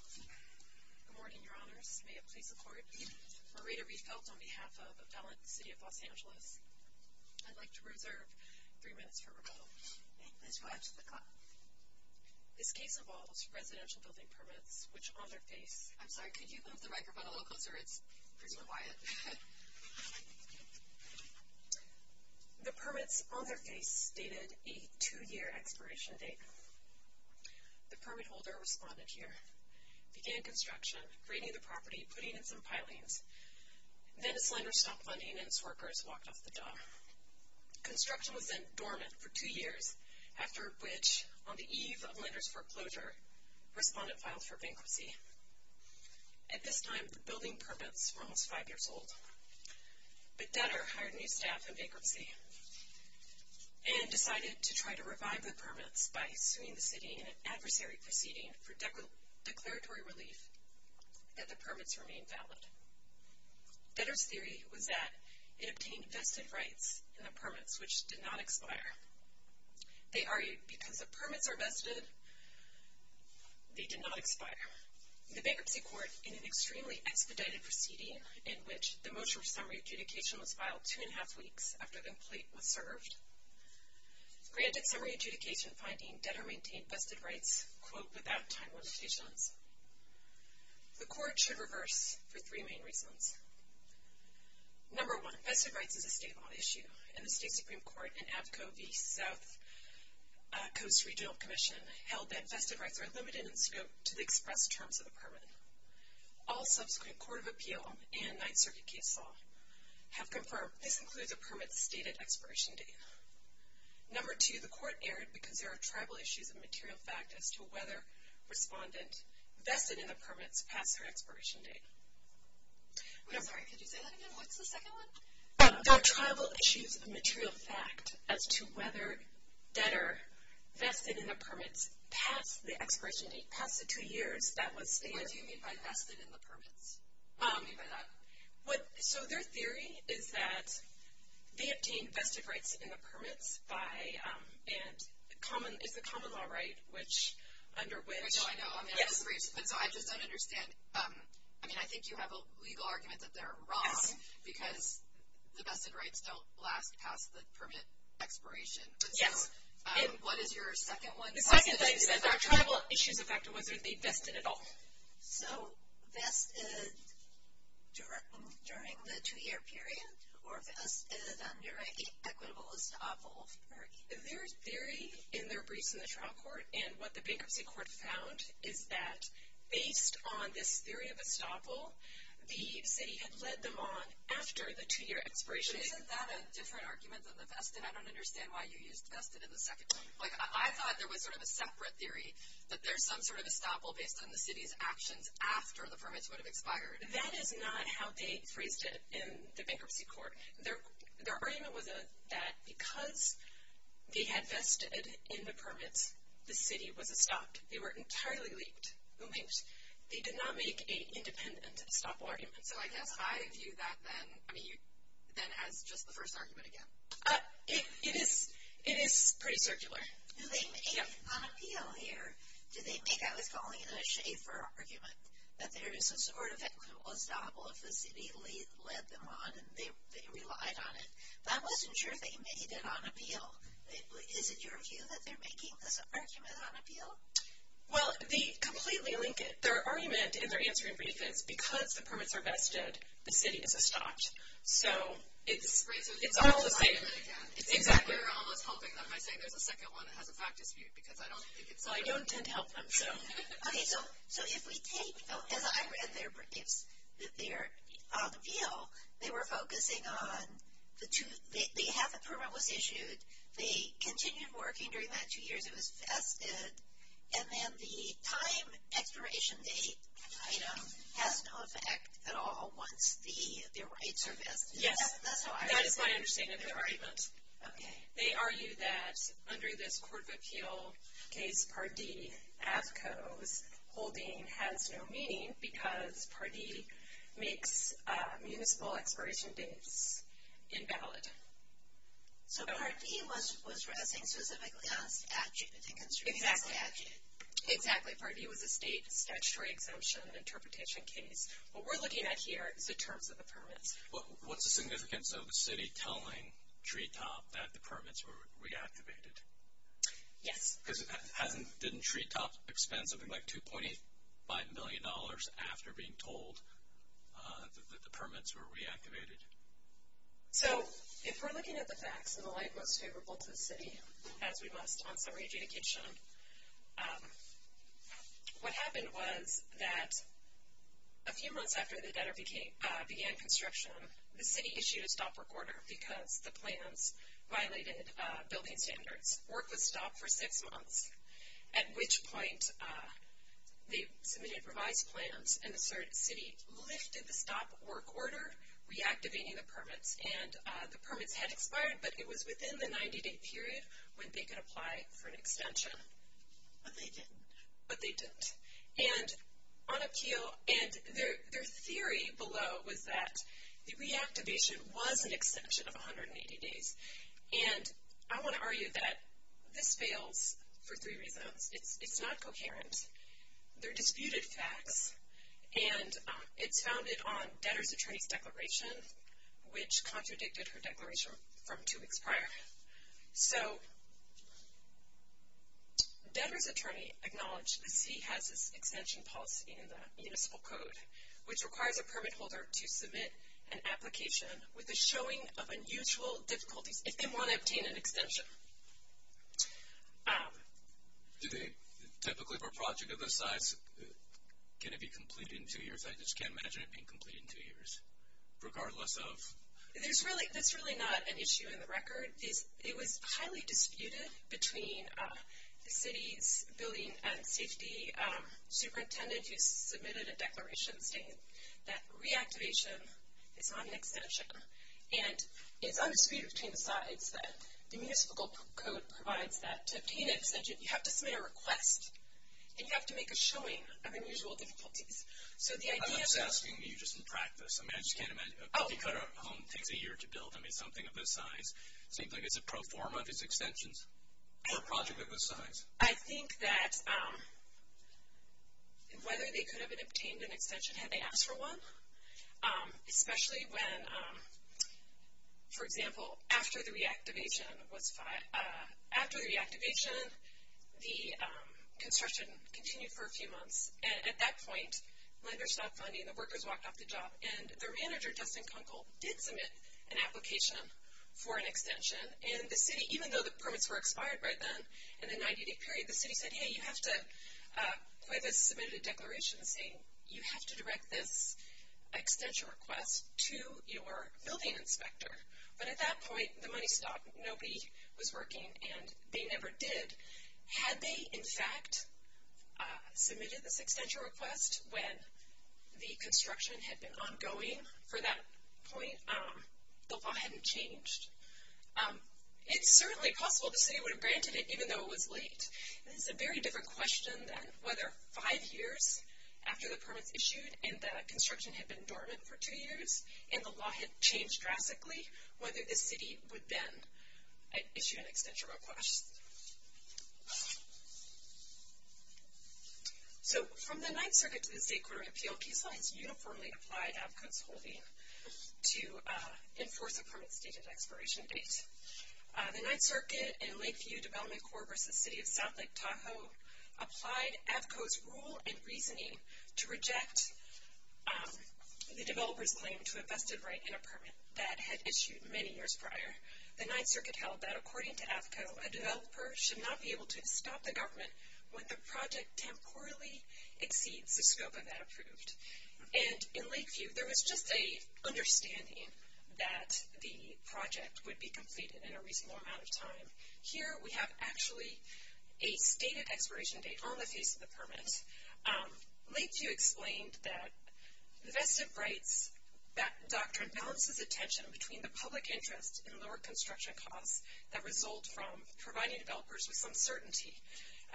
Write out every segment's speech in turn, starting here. Good morning, your honors. May it please the court. Marita Riefelt on behalf of the City of Los Angeles. I'd like to reserve three minutes for rebuttal. Please go ahead to the clock. This case involves residential building permits, which on their face... I'm sorry, could you move the microphone a little closer? It's pretty quiet. The permits on their face stated a two-year expiration date. The permit holder responded here, began construction, creating the property, putting in some pilings. Then this lender stopped lending and its workers walked off the dock. Construction was then dormant for two years, after which, on the eve of lender's foreclosure, respondent filed for bankruptcy. At this time, the building permits were almost five years old. The debtor hired new staff in bankruptcy and decided to try to revive the permits by suing the city in an adversary proceeding for declaratory relief that the permits remained valid. Debtor's theory was that it obtained vested rights in the permits, which did not expire. They argued because the permits are vested, they did not expire. The bankruptcy court, in an extremely expedited proceeding, in which the motion for summary adjudication was filed two and a half weeks after the plate was served, granted summary adjudication finding debtor maintained vested rights, quote, without time limitations. The court should reverse for three main reasons. Number one, vested rights is a state law issue, and the state Supreme Court and APCO v. South Coast Regional Commission held that vested rights are limited in scope to the express terms of the permit. All subsequent court of appeal and Ninth Circuit case law have confirmed this includes a permit's stated expiration date. Number two, the court erred because there are tribal issues of material fact as to whether respondent vested in the permits passed their expiration date. I'm sorry, could you say that again? What's the second one? There are tribal issues of material fact as to whether debtor vested in the permits passed the expiration date, passed it two years, that was stated. What do you mean by vested in the permits? What do you mean by that? So their theory is that they obtained vested rights in the permits by, and it's a common law right, which, under which. I know, I know, I'm going to have to rephrase it, but so I just don't understand. I mean, I think you have a legal argument that they're wrong because the vested rights don't last past the permit expiration. Yes. What is your second one? The second thing is that there are tribal issues of fact as to whether they vested at all. So vested during the two-year period or vested under an equitable estoppel? Their theory in their briefs in the trial court and what the bankruptcy court found is that based on this theory of estoppel, the city had led them on after the two-year expiration date. Isn't that a different argument than the vested? I don't understand why you used vested in the second one. Like, I thought there was sort of a separate theory that there's some sort of estoppel based on the city's actions after the permits would have expired. That is not how they phrased it in the bankruptcy court. Their argument was that because they had vested in the permits, the city was estopped. They were entirely leaked. They did not make an independent estoppel argument. So I guess I view that then as just the first argument again. It is pretty circular. Do they make it on appeal here? Do they make, I was calling it a Schaefer argument, that there is some sort of equitable estoppel if the city led them on and they relied on it. But I wasn't sure they made it on appeal. Is it your view that they're making this argument on appeal? Well, they completely link it. Their argument in their answering brief is because the permits are vested, the city is estopped. So it's all the same. It's not an argument again. Exactly. You're almost helping them by saying there's a second one that has a fact dispute because I don't think it's on appeal. Well, I don't intend to help them, so. Okay, so if we take, as I read their briefs, that they are on appeal, they were focusing on the two, half the permit was issued, they continued working during that two years it was vested, and then the time expiration date item has no effect at all once the rights are vested. Yes. That's how I read it. That is my understanding of their argument. Okay. They argue that under this court of appeal case, Part D, AFCO's holding has no meaning because Part D makes municipal expiration dates invalid. So Part D was resting specifically on statute. Exactly. Part D was a state statutory exemption interpretation case. What we're looking at here is the terms of the permits. What's the significance of the city telling Treetop that the permits were reactivated? Yes. Because didn't Treetop expend something like $2.5 million after being told that the permits were reactivated? So if we're looking at the facts in the light most favorable to the city, as we must on summary adjudication, what happened was that a few months after the debtor began construction, the city issued a stop work order because the plans violated building standards. Work was stopped for six months, at which point they submitted revised plans and the city lifted the stop work order, reactivating the permits. And the permits had expired, but it was within the 90-day period when they could apply for an extension. But they didn't. But they didn't. And on appeal, and their theory below was that the reactivation was an extension of 180 days. And I want to argue that this fails for three reasons. It's not coherent. They're disputed facts. And it's founded on debtor's attorney's declaration, which contradicted her declaration from two weeks prior. So debtor's attorney acknowledged the city has this extension policy in the municipal code, which requires a permit holder to submit an application with a showing of unusual difficulties if they want to obtain an extension. Typically, for a project of this size, can it be completed in two years? I just can't imagine it being completed in two years, regardless of? That's really not an issue in the record. It was highly disputed between the city's building and safety superintendent, who submitted a declaration saying that reactivation is not an extension. And it's undisputed between the sides that the municipal code provides that to obtain an extension, you have to submit a request, and you have to make a showing of unusual difficulties. I'm just asking you just in practice. I mean, I just can't imagine. If a home takes a year to build, I mean, something of this size, it seems like it's a pro forma of these extensions for a project of this size. I think that whether they could have obtained an extension had they asked for one, especially when, for example, after the reactivation, the construction continued for a few months. And at that point, lenders stopped funding, the workers walked off the job, and the manager, Dustin Kunkel, did submit an application for an extension. And the city, even though the permits were expired right then in the 90-day period, the city said, hey, you have to quit this, submitted a declaration saying, you have to direct this extension request to your building inspector. But at that point, the money stopped, nobody was working, and they never did. Had they, in fact, submitted this extension request when the construction had been ongoing for that point, the law hadn't changed. It's certainly possible the city would have granted it even though it was late. It's a very different question than whether five years after the permits issued and the construction had been dormant for two years and the law had changed drastically, whether the city would then issue an extension request. So from the Ninth Circuit to the State Court of Appeal, PSLA has uniformly applied AAFCO's holding to enforce a permit's date of expiration date. The Ninth Circuit and Lakeview Development Corps v. City of South Lake Tahoe applied AAFCO's rule and reasoning to reject the developer's claim to a vested right in a permit that had issued many years prior. The Ninth Circuit held that, according to AAFCO, a developer should not be able to stop the government when the project temporally exceeds the scope of that approved. And in Lakeview, there was just an understanding that the project would be completed in a reasonable amount of time. Here, we have actually a stated expiration date on the face of the permit. Lakeview explained that the vested rights doctrine balances attention between the public interest in lower construction costs that result from providing developers with some certainty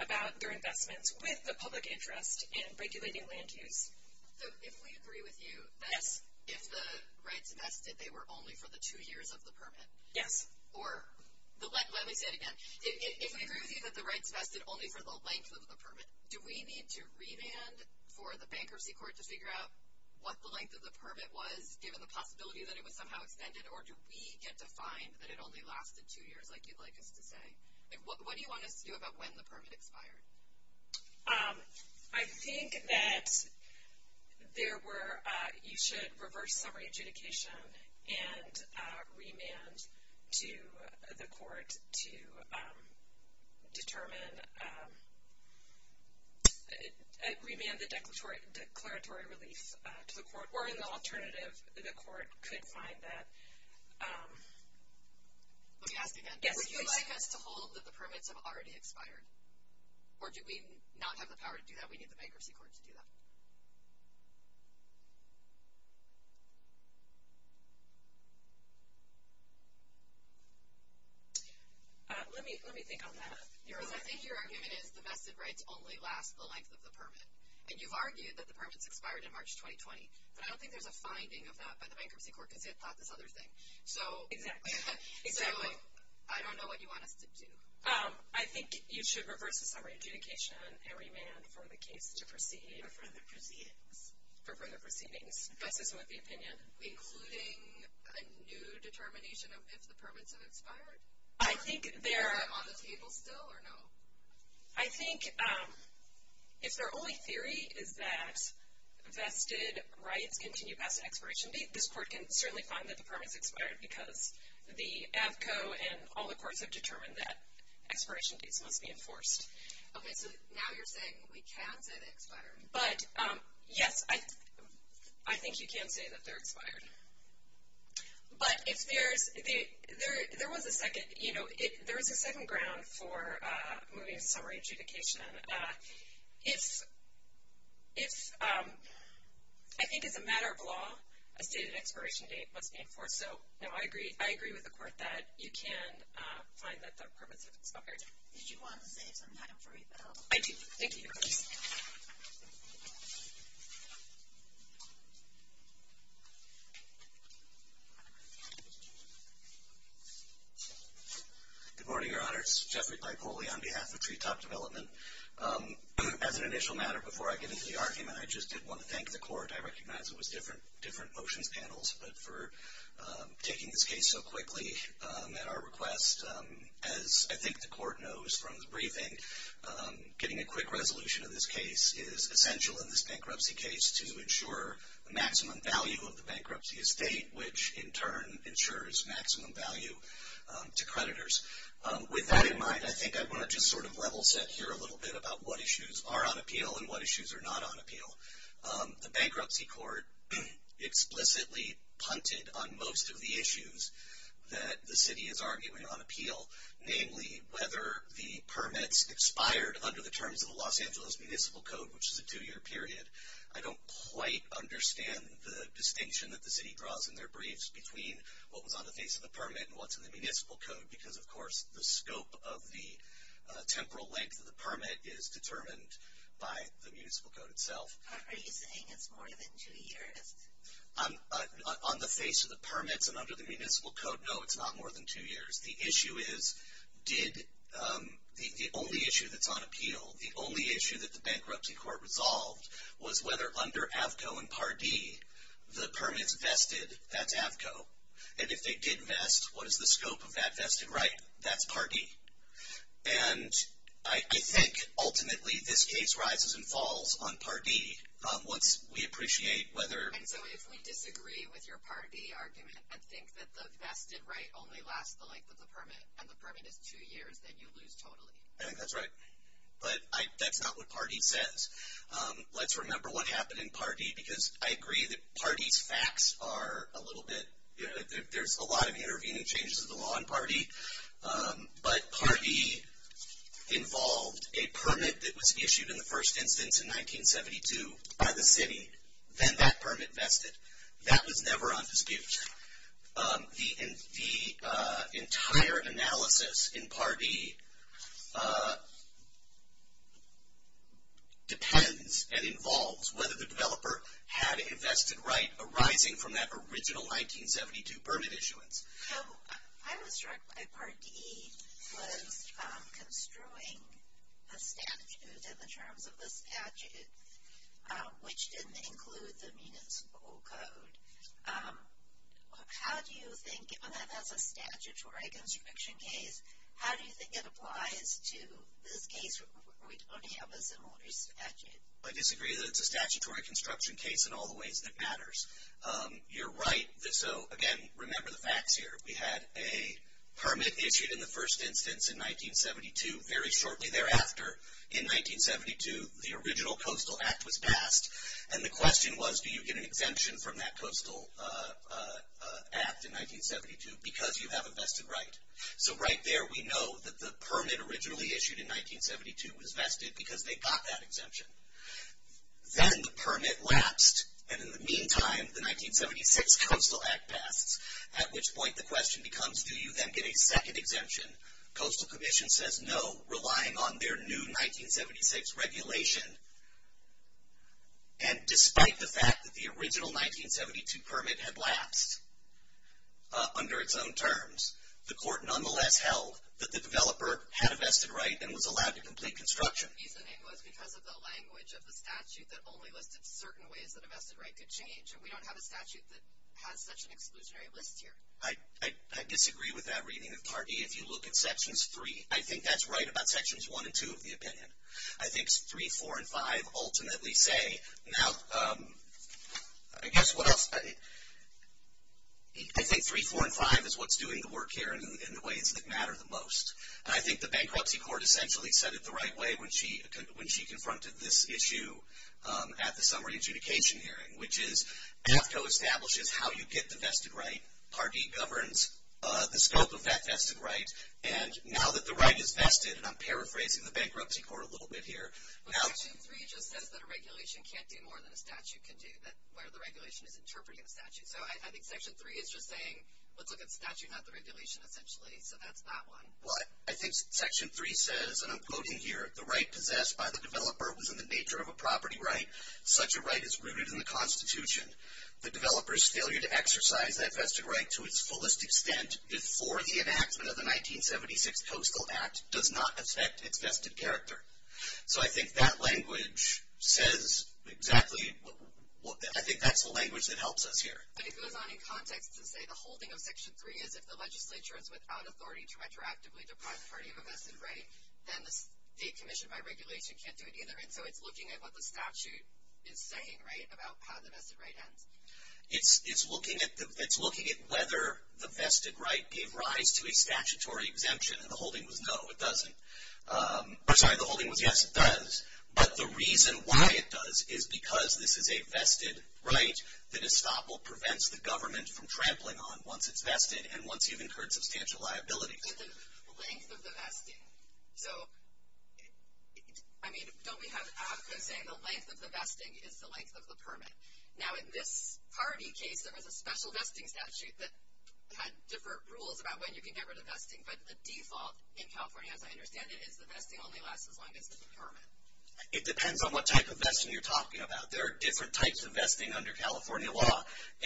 about their investments with the public interest in regulating land use. So if we agree with you that if the rights vested, they were only for the two years of the permit? Yes. Let me say it again. If we agree with you that the rights vested only for the length of the permit, do we need to revand for the bankruptcy court to figure out what the length of the permit was, given the possibility that it was somehow extended, or do we get to find that it only lasted two years, like you'd like us to say? What do you want us to do about when the permit expired? I think that you should reverse summary adjudication and remand the declaratory relief to the court, or in the alternative, the court could find that. Let me ask again. Would you like us to hold that the permits have already expired, or do we not have the power to do that, we need the bankruptcy court to do that? Let me think on that. Because I think your argument is the vested rights only last the length of the permit, and you've argued that the permits expired in March 2020, but I don't think there's a finding of that by the bankruptcy court, because they've thought this other thing. Exactly. So I don't know what you want us to do. I think you should reverse the summary adjudication and remand for the case to proceed. For further proceedings. For further proceedings. That's just my opinion. Including a new determination of if the permits have expired? Is that on the table still, or no? I think if their only theory is that vested rights continue past an expiration date, this court can certainly find that the permits expired because the AVCO and all the courts have determined that expiration dates must be enforced. Okay, so now you're saying we can say they expired. But, yes, I think you can say that they're expired. But there is a second ground for moving to summary adjudication. If I think it's a matter of law, a stated expiration date must be enforced. So, no, I agree with the court that you can find that the permits have expired. Did you want to save some time for rebuttal? I do. Thank you. Good morning, Your Honors. Jeffrey Paipoli on behalf of Tree Top Development. As an initial matter before I get into the argument, I just did want to thank the court. I recognize it was different motions panels, but for taking this case so quickly at our request. As I think the court knows from the briefing, getting a quick resolution of this case is essential in this bankruptcy case to ensure the maximum value of the bankruptcy estate, which in turn ensures maximum value to creditors. With that in mind, I think I want to just sort of level set here a little bit about what issues are on appeal and what issues are not on appeal. The bankruptcy court explicitly punted on most of the issues that the city is arguing on appeal, namely whether the permits expired under the terms of the Los Angeles Municipal Code, which is a two-year period. I don't quite understand the distinction that the city draws in their briefs between what was on the face of the permit and what's in the Municipal Code, because, of course, the scope of the temporal length of the permit is determined by the Municipal Code itself. Are you saying it's more than two years? On the face of the permits and under the Municipal Code, no, it's not more than two years. The issue is, the only issue that's on appeal, the only issue that the bankruptcy court resolved was whether under AVCO and Par D, the permits vested, that's AVCO. And if they did vest, what is the scope of that vested right? That's Par D. And I think, ultimately, this case rises and falls on Par D once we appreciate whether... And so if we disagree with your Par D argument and think that the vested right only lasts the length of the permit and the permit is two years, then you lose totally. I think that's right. But that's not what Par D says. Let's remember what happened in Par D, because I agree that Par D's facts are a little bit... There's a lot of intervening changes of the law in Par D. But Par D involved a permit that was issued in the first instance in 1972 by the city. Then that permit vested. That was never on dispute. The entire analysis in Par D depends and involves whether the developer had a vested right arising from that original 1972 permit issuance. I was struck by Par D was construing a statute in the terms of the statute, which didn't include the municipal code. How do you think, given that that's a statutory construction case, how do you think it applies to this case where we don't have a similar statute? I disagree that it's a statutory construction case in all the ways that matters. You're right. Again, remember the facts here. We had a permit issued in the first instance in 1972. Very shortly thereafter, in 1972, the original Coastal Act was passed. And the question was, do you get an exemption from that Coastal Act in 1972 because you have a vested right? So right there we know that the permit originally issued in 1972 was vested because they got that exemption. Then the permit lapsed, and in the meantime, the 1976 Coastal Act passed, at which point the question becomes, do you then get a second exemption? Coastal Commission says no, relying on their new 1976 regulation. And despite the fact that the original 1972 permit had lapsed under its own terms, the court nonetheless held that the developer had a vested right and was allowed to complete construction. The reasoning was because of the language of the statute that only listed certain ways that a vested right could change, and we don't have a statute that has such an exclusionary list here. I disagree with that reading of CARB-E. If you look at Sections 3, I think that's right about Sections 1 and 2 of the opinion. I think 3, 4, and 5 ultimately say, now, I guess what else? I think 3, 4, and 5 is what's doing the work here in the ways that matter the most. And I think the Bankruptcy Court essentially said it the right way when she confronted this issue at the summary adjudication hearing, which is AFCO establishes how you get the vested right. CARB-E governs the scope of that vested right. And now that the right is vested, and I'm paraphrasing the Bankruptcy Court a little bit here. Section 3 just says that a regulation can't do more than a statute can do, where the regulation is interpreting the statute. So I think Section 3 is just saying, let's look at the statute, not the regulation, essentially. So that's that one. But I think Section 3 says, and I'm quoting here, the right possessed by the developer was in the nature of a property right. Such a right is rooted in the Constitution. The developer's failure to exercise that vested right to its fullest extent before the enactment of the 1976 Coastal Act does not affect its vested character. So I think that language says exactly, I think that's the language that helps us here. But it goes on in context to say the holding of Section 3 is, if the legislature is without authority to retroactively deprive the party of a vested right, then the state commission by regulation can't do it either. And so it's looking at what the statute is saying, right, about how the vested right ends. It's looking at whether the vested right gave rise to a statutory exemption. And the holding was no, it doesn't. Sorry, the holding was yes, it does. But the reason why it does is because this is a vested right, the destoppel prevents the government from trampling on once it's vested and once you've incurred substantial liability. But the length of the vesting, so, I mean, don't we have AFCA saying the length of the vesting is the length of the permit? Now, in this party case, there was a special vesting statute that had different rules about when you can get rid of vesting. But the default in California, as I understand it, is the vesting only lasts as long as it's a permit. It depends on what type of vesting you're talking about. There are different types of vesting under California law.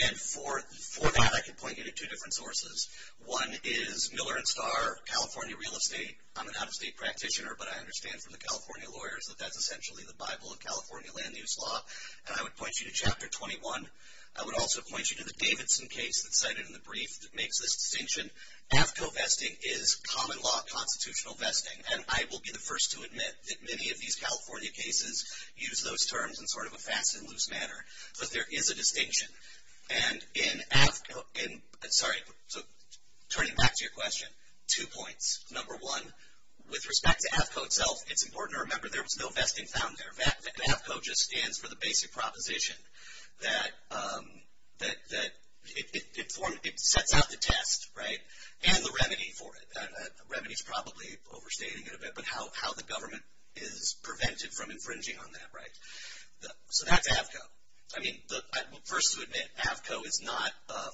And for that, I can point you to two different sources. One is Miller and Starr, California Real Estate. I'm an out-of-state practitioner, but I understand from the California lawyers that that's essentially the Bible of California land use law. And I would point you to Chapter 21. I would also point you to the Davidson case that's cited in the brief that makes this distinction. AFCO vesting is common law constitutional vesting. And I will be the first to admit that many of these California cases use those terms in sort of a fast and loose manner. But there is a distinction. And in AFCO, sorry, turning back to your question, two points. Number one, with respect to AFCO itself, it's important to remember there was no vesting found there. AFCO just stands for the basic proposition that it sets out the test, right, and the remedy for it. Remedy is probably overstating it a bit, but how the government is prevented from infringing on that, right? So that's AFCO. I mean, first to admit, AFCO is not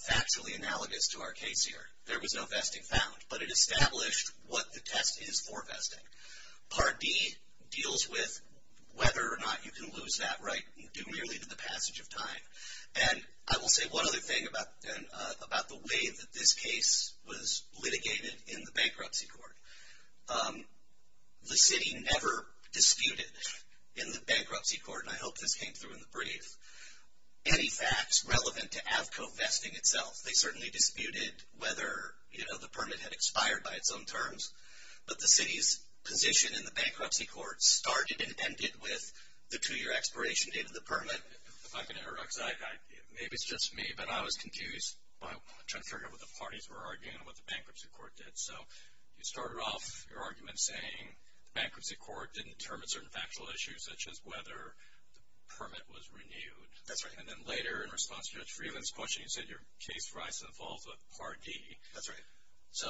factually analogous to our case here. There was no vesting found, but it established what the test is for vesting. Part D deals with whether or not you can lose that right due merely to the passage of time. And I will say one other thing about the way that this case was litigated in the bankruptcy court. The city never disputed in the bankruptcy court, and I hope this came through in the brief, any facts relevant to AFCO vesting itself. They certainly disputed whether, you know, the permit had expired by its own terms. But the city's position in the bankruptcy court started and ended with the two-year expiration date of the permit. If I can interrupt, because maybe it's just me, but I was confused. I'm trying to figure out what the parties were arguing and what the bankruptcy court did. So you started off your argument saying the bankruptcy court didn't determine certain factual issues, such as whether the permit was renewed. That's right. And then later, in response to Judge Freeland's question, you said your case rises and falls with Part D. That's right. So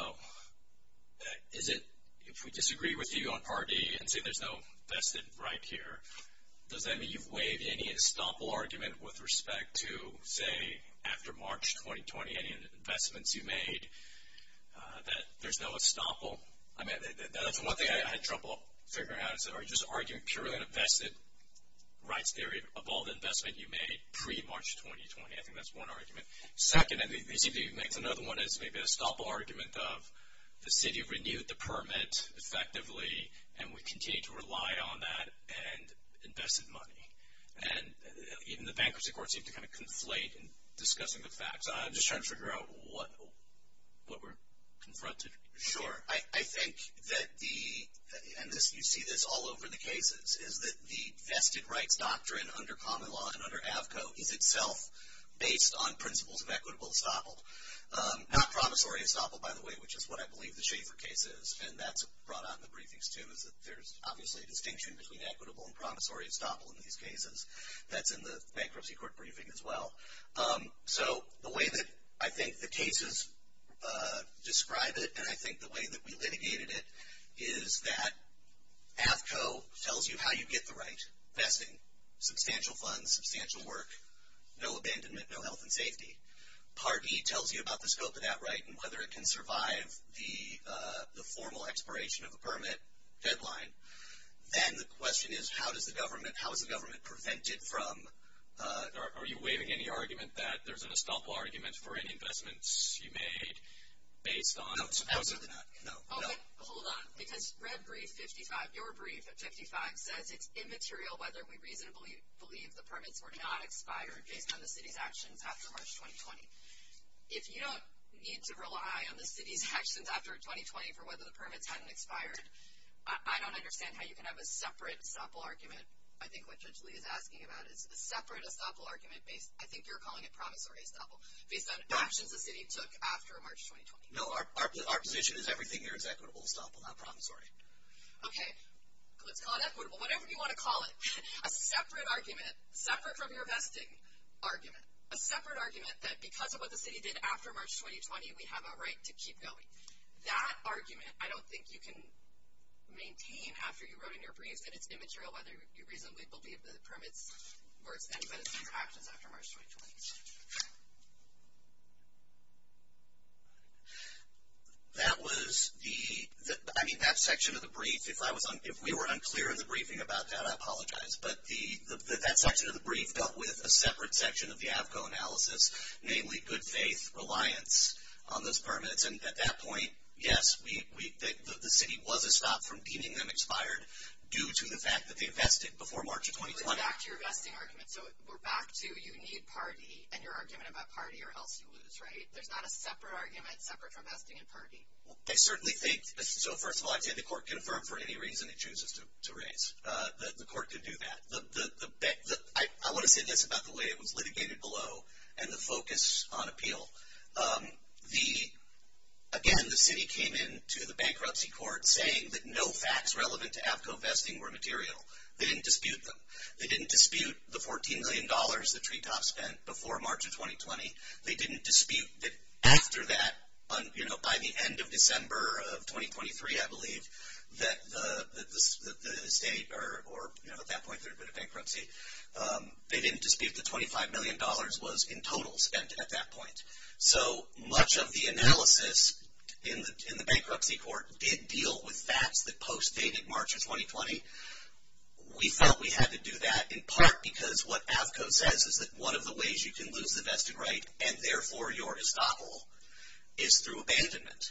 is it, if we disagree with you on Part D and say there's no vested right here, does that mean you've waived any estoppel argument with respect to, say, after March 2020, any investments you made that there's no estoppel? I mean, that's one thing I had trouble figuring out, is are you just arguing purely an invested rights theory of all the investment you made pre-March 2020? I think that's one argument. Second, they seem to make another one as maybe an estoppel argument of the city renewed the permit effectively and would continue to rely on that and invested money. And even the bankruptcy court seemed to kind of conflate in discussing the facts. I'm just trying to figure out what we're confronted with. Sure. I think that the, and you see this all over the cases, is that the vested rights doctrine under common law and under AFCO is itself based on principles of equitable estoppel. Not promissory estoppel, by the way, which is what I believe the Schaefer case is. And that's brought out in the briefings, too, is that there's obviously a distinction between equitable and promissory estoppel in these cases. That's in the bankruptcy court briefing as well. So the way that I think the cases describe it and I think the way that we litigated it is that AFCO tells you how you get the right investing. Substantial funds, substantial work, no abandonment, no health and safety. Part D tells you about the scope of that right and whether it can survive the formal expiration of the permit deadline. Then the question is how does the government, how is the government prevented from, are you waiving any argument that there's an estoppel argument for any investments you made based on, No, supposedly not. Hold on, because red brief 55, your brief at 55 says it's immaterial whether we reasonably believe the permits were not expired based on the city's actions after March 2020. If you don't need to rely on the city's actions after 2020 for whether the permits hadn't expired, I don't understand how you can have a separate estoppel argument. I think what Judge Lee is asking about is a separate estoppel argument based, I think you're calling it promissory estoppel, based on actions the city took after March 2020. No, our position is everything here is equitable estoppel, not promissory. Okay, let's call it equitable, whatever you want to call it. A separate argument, separate from your vesting argument, a separate argument that because of what the city did after March 2020 we have a right to keep going. That argument I don't think you can maintain after you wrote in your brief that it's immaterial whether you reasonably believe the permits were as anybody's actions after March 2020. That was the, I mean that section of the brief, if we were unclear in the briefing about that I apologize, but that section of the brief dealt with a separate section of the AFCO analysis, namely good faith reliance on those permits, and at that point yes, the city was a stop from deeming them expired due to the fact that they vested before March of 2020. We're back to your vesting argument, so we're back to you need party and your argument about party or else you lose, right? There's not a separate argument separate from vesting and party. I certainly think, so first of all I'd say the court can affirm for any reason it chooses to raise. The court can do that. I want to say this about the way it was litigated below and the focus on appeal. The, again the city came in to the bankruptcy court saying that no facts relevant to AFCO vesting were material. They didn't dispute them. They didn't dispute the $14 million that Treetop spent before March of 2020. They didn't dispute that after that, you know, by the end of December of 2023 I believe, that the state or, you know, at that point there had been a bankruptcy. They didn't dispute the $25 million was in total spent at that point. So much of the analysis in the bankruptcy court did deal with facts that postdated March of 2020. We felt we had to do that in part because what AFCO says is that one of the ways you can lose the vested right and therefore your estoppel is through abandonment,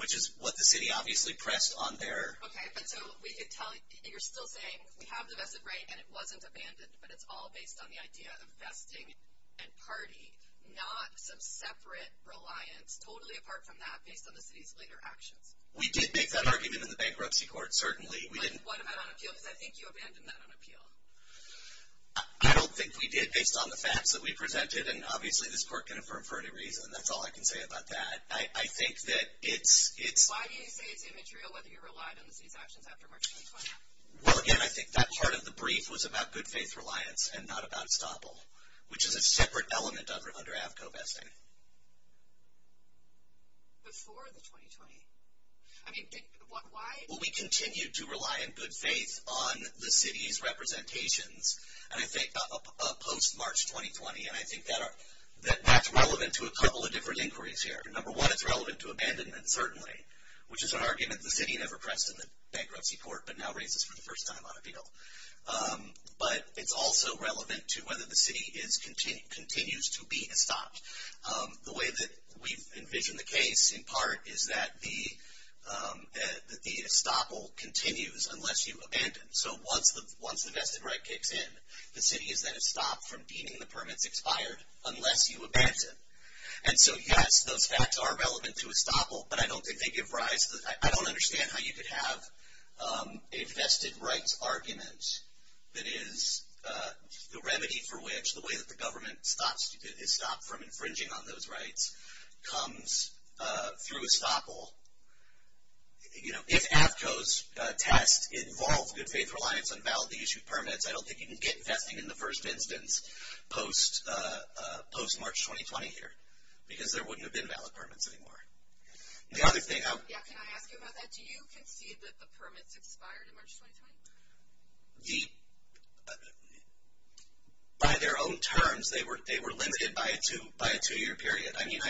which is what the city obviously pressed on their... Okay, but so we could tell you're still saying we have the vested right and it wasn't abandoned, but it's all based on the idea of vesting and party, not some separate reliance, totally apart from that based on the city's later actions. We did make that argument in the bankruptcy court, certainly. What about on appeal? Because I think you abandoned that on appeal. I don't think we did based on the facts that we presented, and obviously this court can affirm for any reason. That's all I can say about that. I think that it's... Why do you say it's immaterial whether you relied on the city's actions after March 2020? Well, again, I think that part of the brief was about good-faith reliance and not about estoppel, which is a separate element under AFCO vesting. Before the 2020? I mean, why... Well, we continued to rely in good faith on the city's representations, and I think post-March 2020, and I think that's relevant to a couple of different inquiries here. Number one, it's relevant to abandonment, certainly, which is an argument the city never pressed in the bankruptcy court but now raises for the first time on appeal. But it's also relevant to whether the city continues to be estopped. The way that we've envisioned the case, in part, is that the estoppel continues unless you abandon. So once the vested right kicks in, the city is then estopped from deeming the permits expired unless you abandon. And so, yes, those facts are relevant to estoppel, but I don't think they give rise to... I don't understand how you could have a vested rights argument that is the remedy for which the way that the government stops... is stopped from infringing on those rights comes through estoppel. You know, if AFCO's test involves good-faith reliance on validly issued permits, I don't think you can get vesting in the first instance post-March 2020 here because there wouldn't have been valid permits anymore. The other thing... Yeah, can I ask you about that? Do you concede that the permits expired in March 2020? The... By their own terms, they were limited by a two-year period. I mean,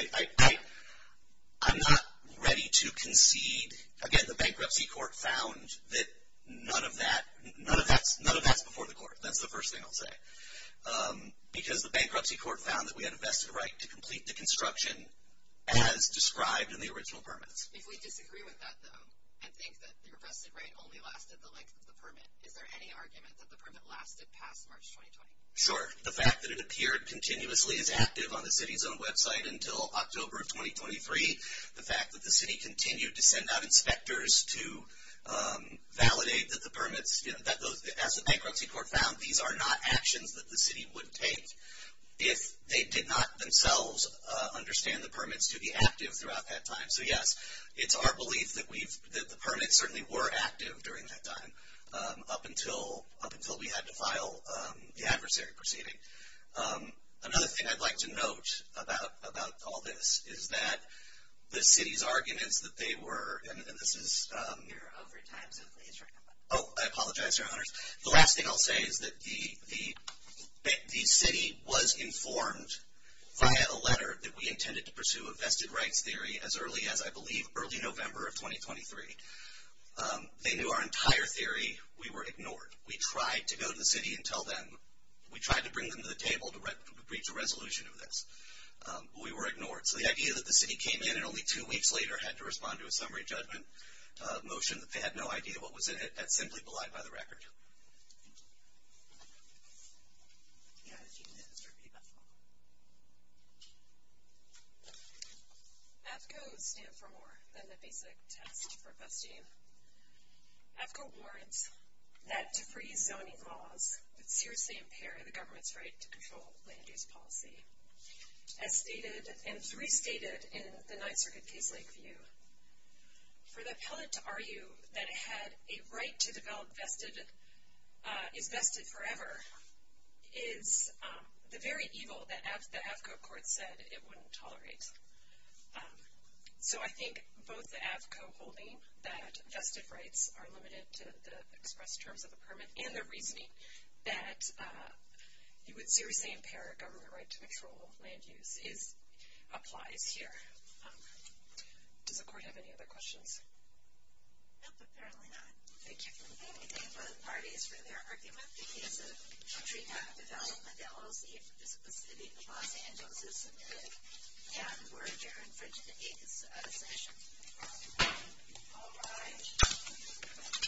I'm not ready to concede... Again, the bankruptcy court found that none of that's before the court. That's the first thing I'll say. Because the bankruptcy court found that we had a vested right to complete the construction as described in the original permits. If we disagree with that, though, and think that your vested right only lasted the length of the permit, is there any argument that the permit lasted past March 2020? Sure. The fact that it appeared continuously as active on the city's own website until October of 2023, the fact that the city continued to send out inspectors to validate that the permits... As the bankruptcy court found, these are not actions that the city would take if they did not themselves understand the permits to be active throughout that time. So, yes, it's our belief that the permits certainly were active during that time, up until we had to file the adversary proceeding. Another thing I'd like to note about all this is that the city's arguments that they were... And this is... You're over time, so please... Oh, I apologize, Your Honors. The last thing I'll say is that the city was informed via a letter that we intended to pursue a vested rights theory as early as, I believe, early November of 2023. They knew our entire theory. We were ignored. We tried to go to the city and tell them. We tried to bring them to the table to reach a resolution of this, but we were ignored. So the idea that the city came in and only two weeks later had to respond to a summary judgment motion that they had no idea what was in it, that's simply belied by the record. Thank you. AFCO stands for more than the basic test for vesting. AFCO warns that to freeze zoning laws would seriously impair the government's right to control land use policy. As stated and restated in the Ninth Circuit case Lakeview, for the appellate to argue that it had a right to develop vested, is vested forever, is the very evil that the AFCO court said it wouldn't tolerate. So I think both the AFCO holding that vested rights are limited to the express terms of the permit and the reasoning that it would seriously impair a government right to control land use applies here. Does the court have any other questions? No, apparently not. Thank you. I want to thank both parties for their argument. This is a development LOC. This is the city of Los Angeles. And we're adjourned for today's session. All rise.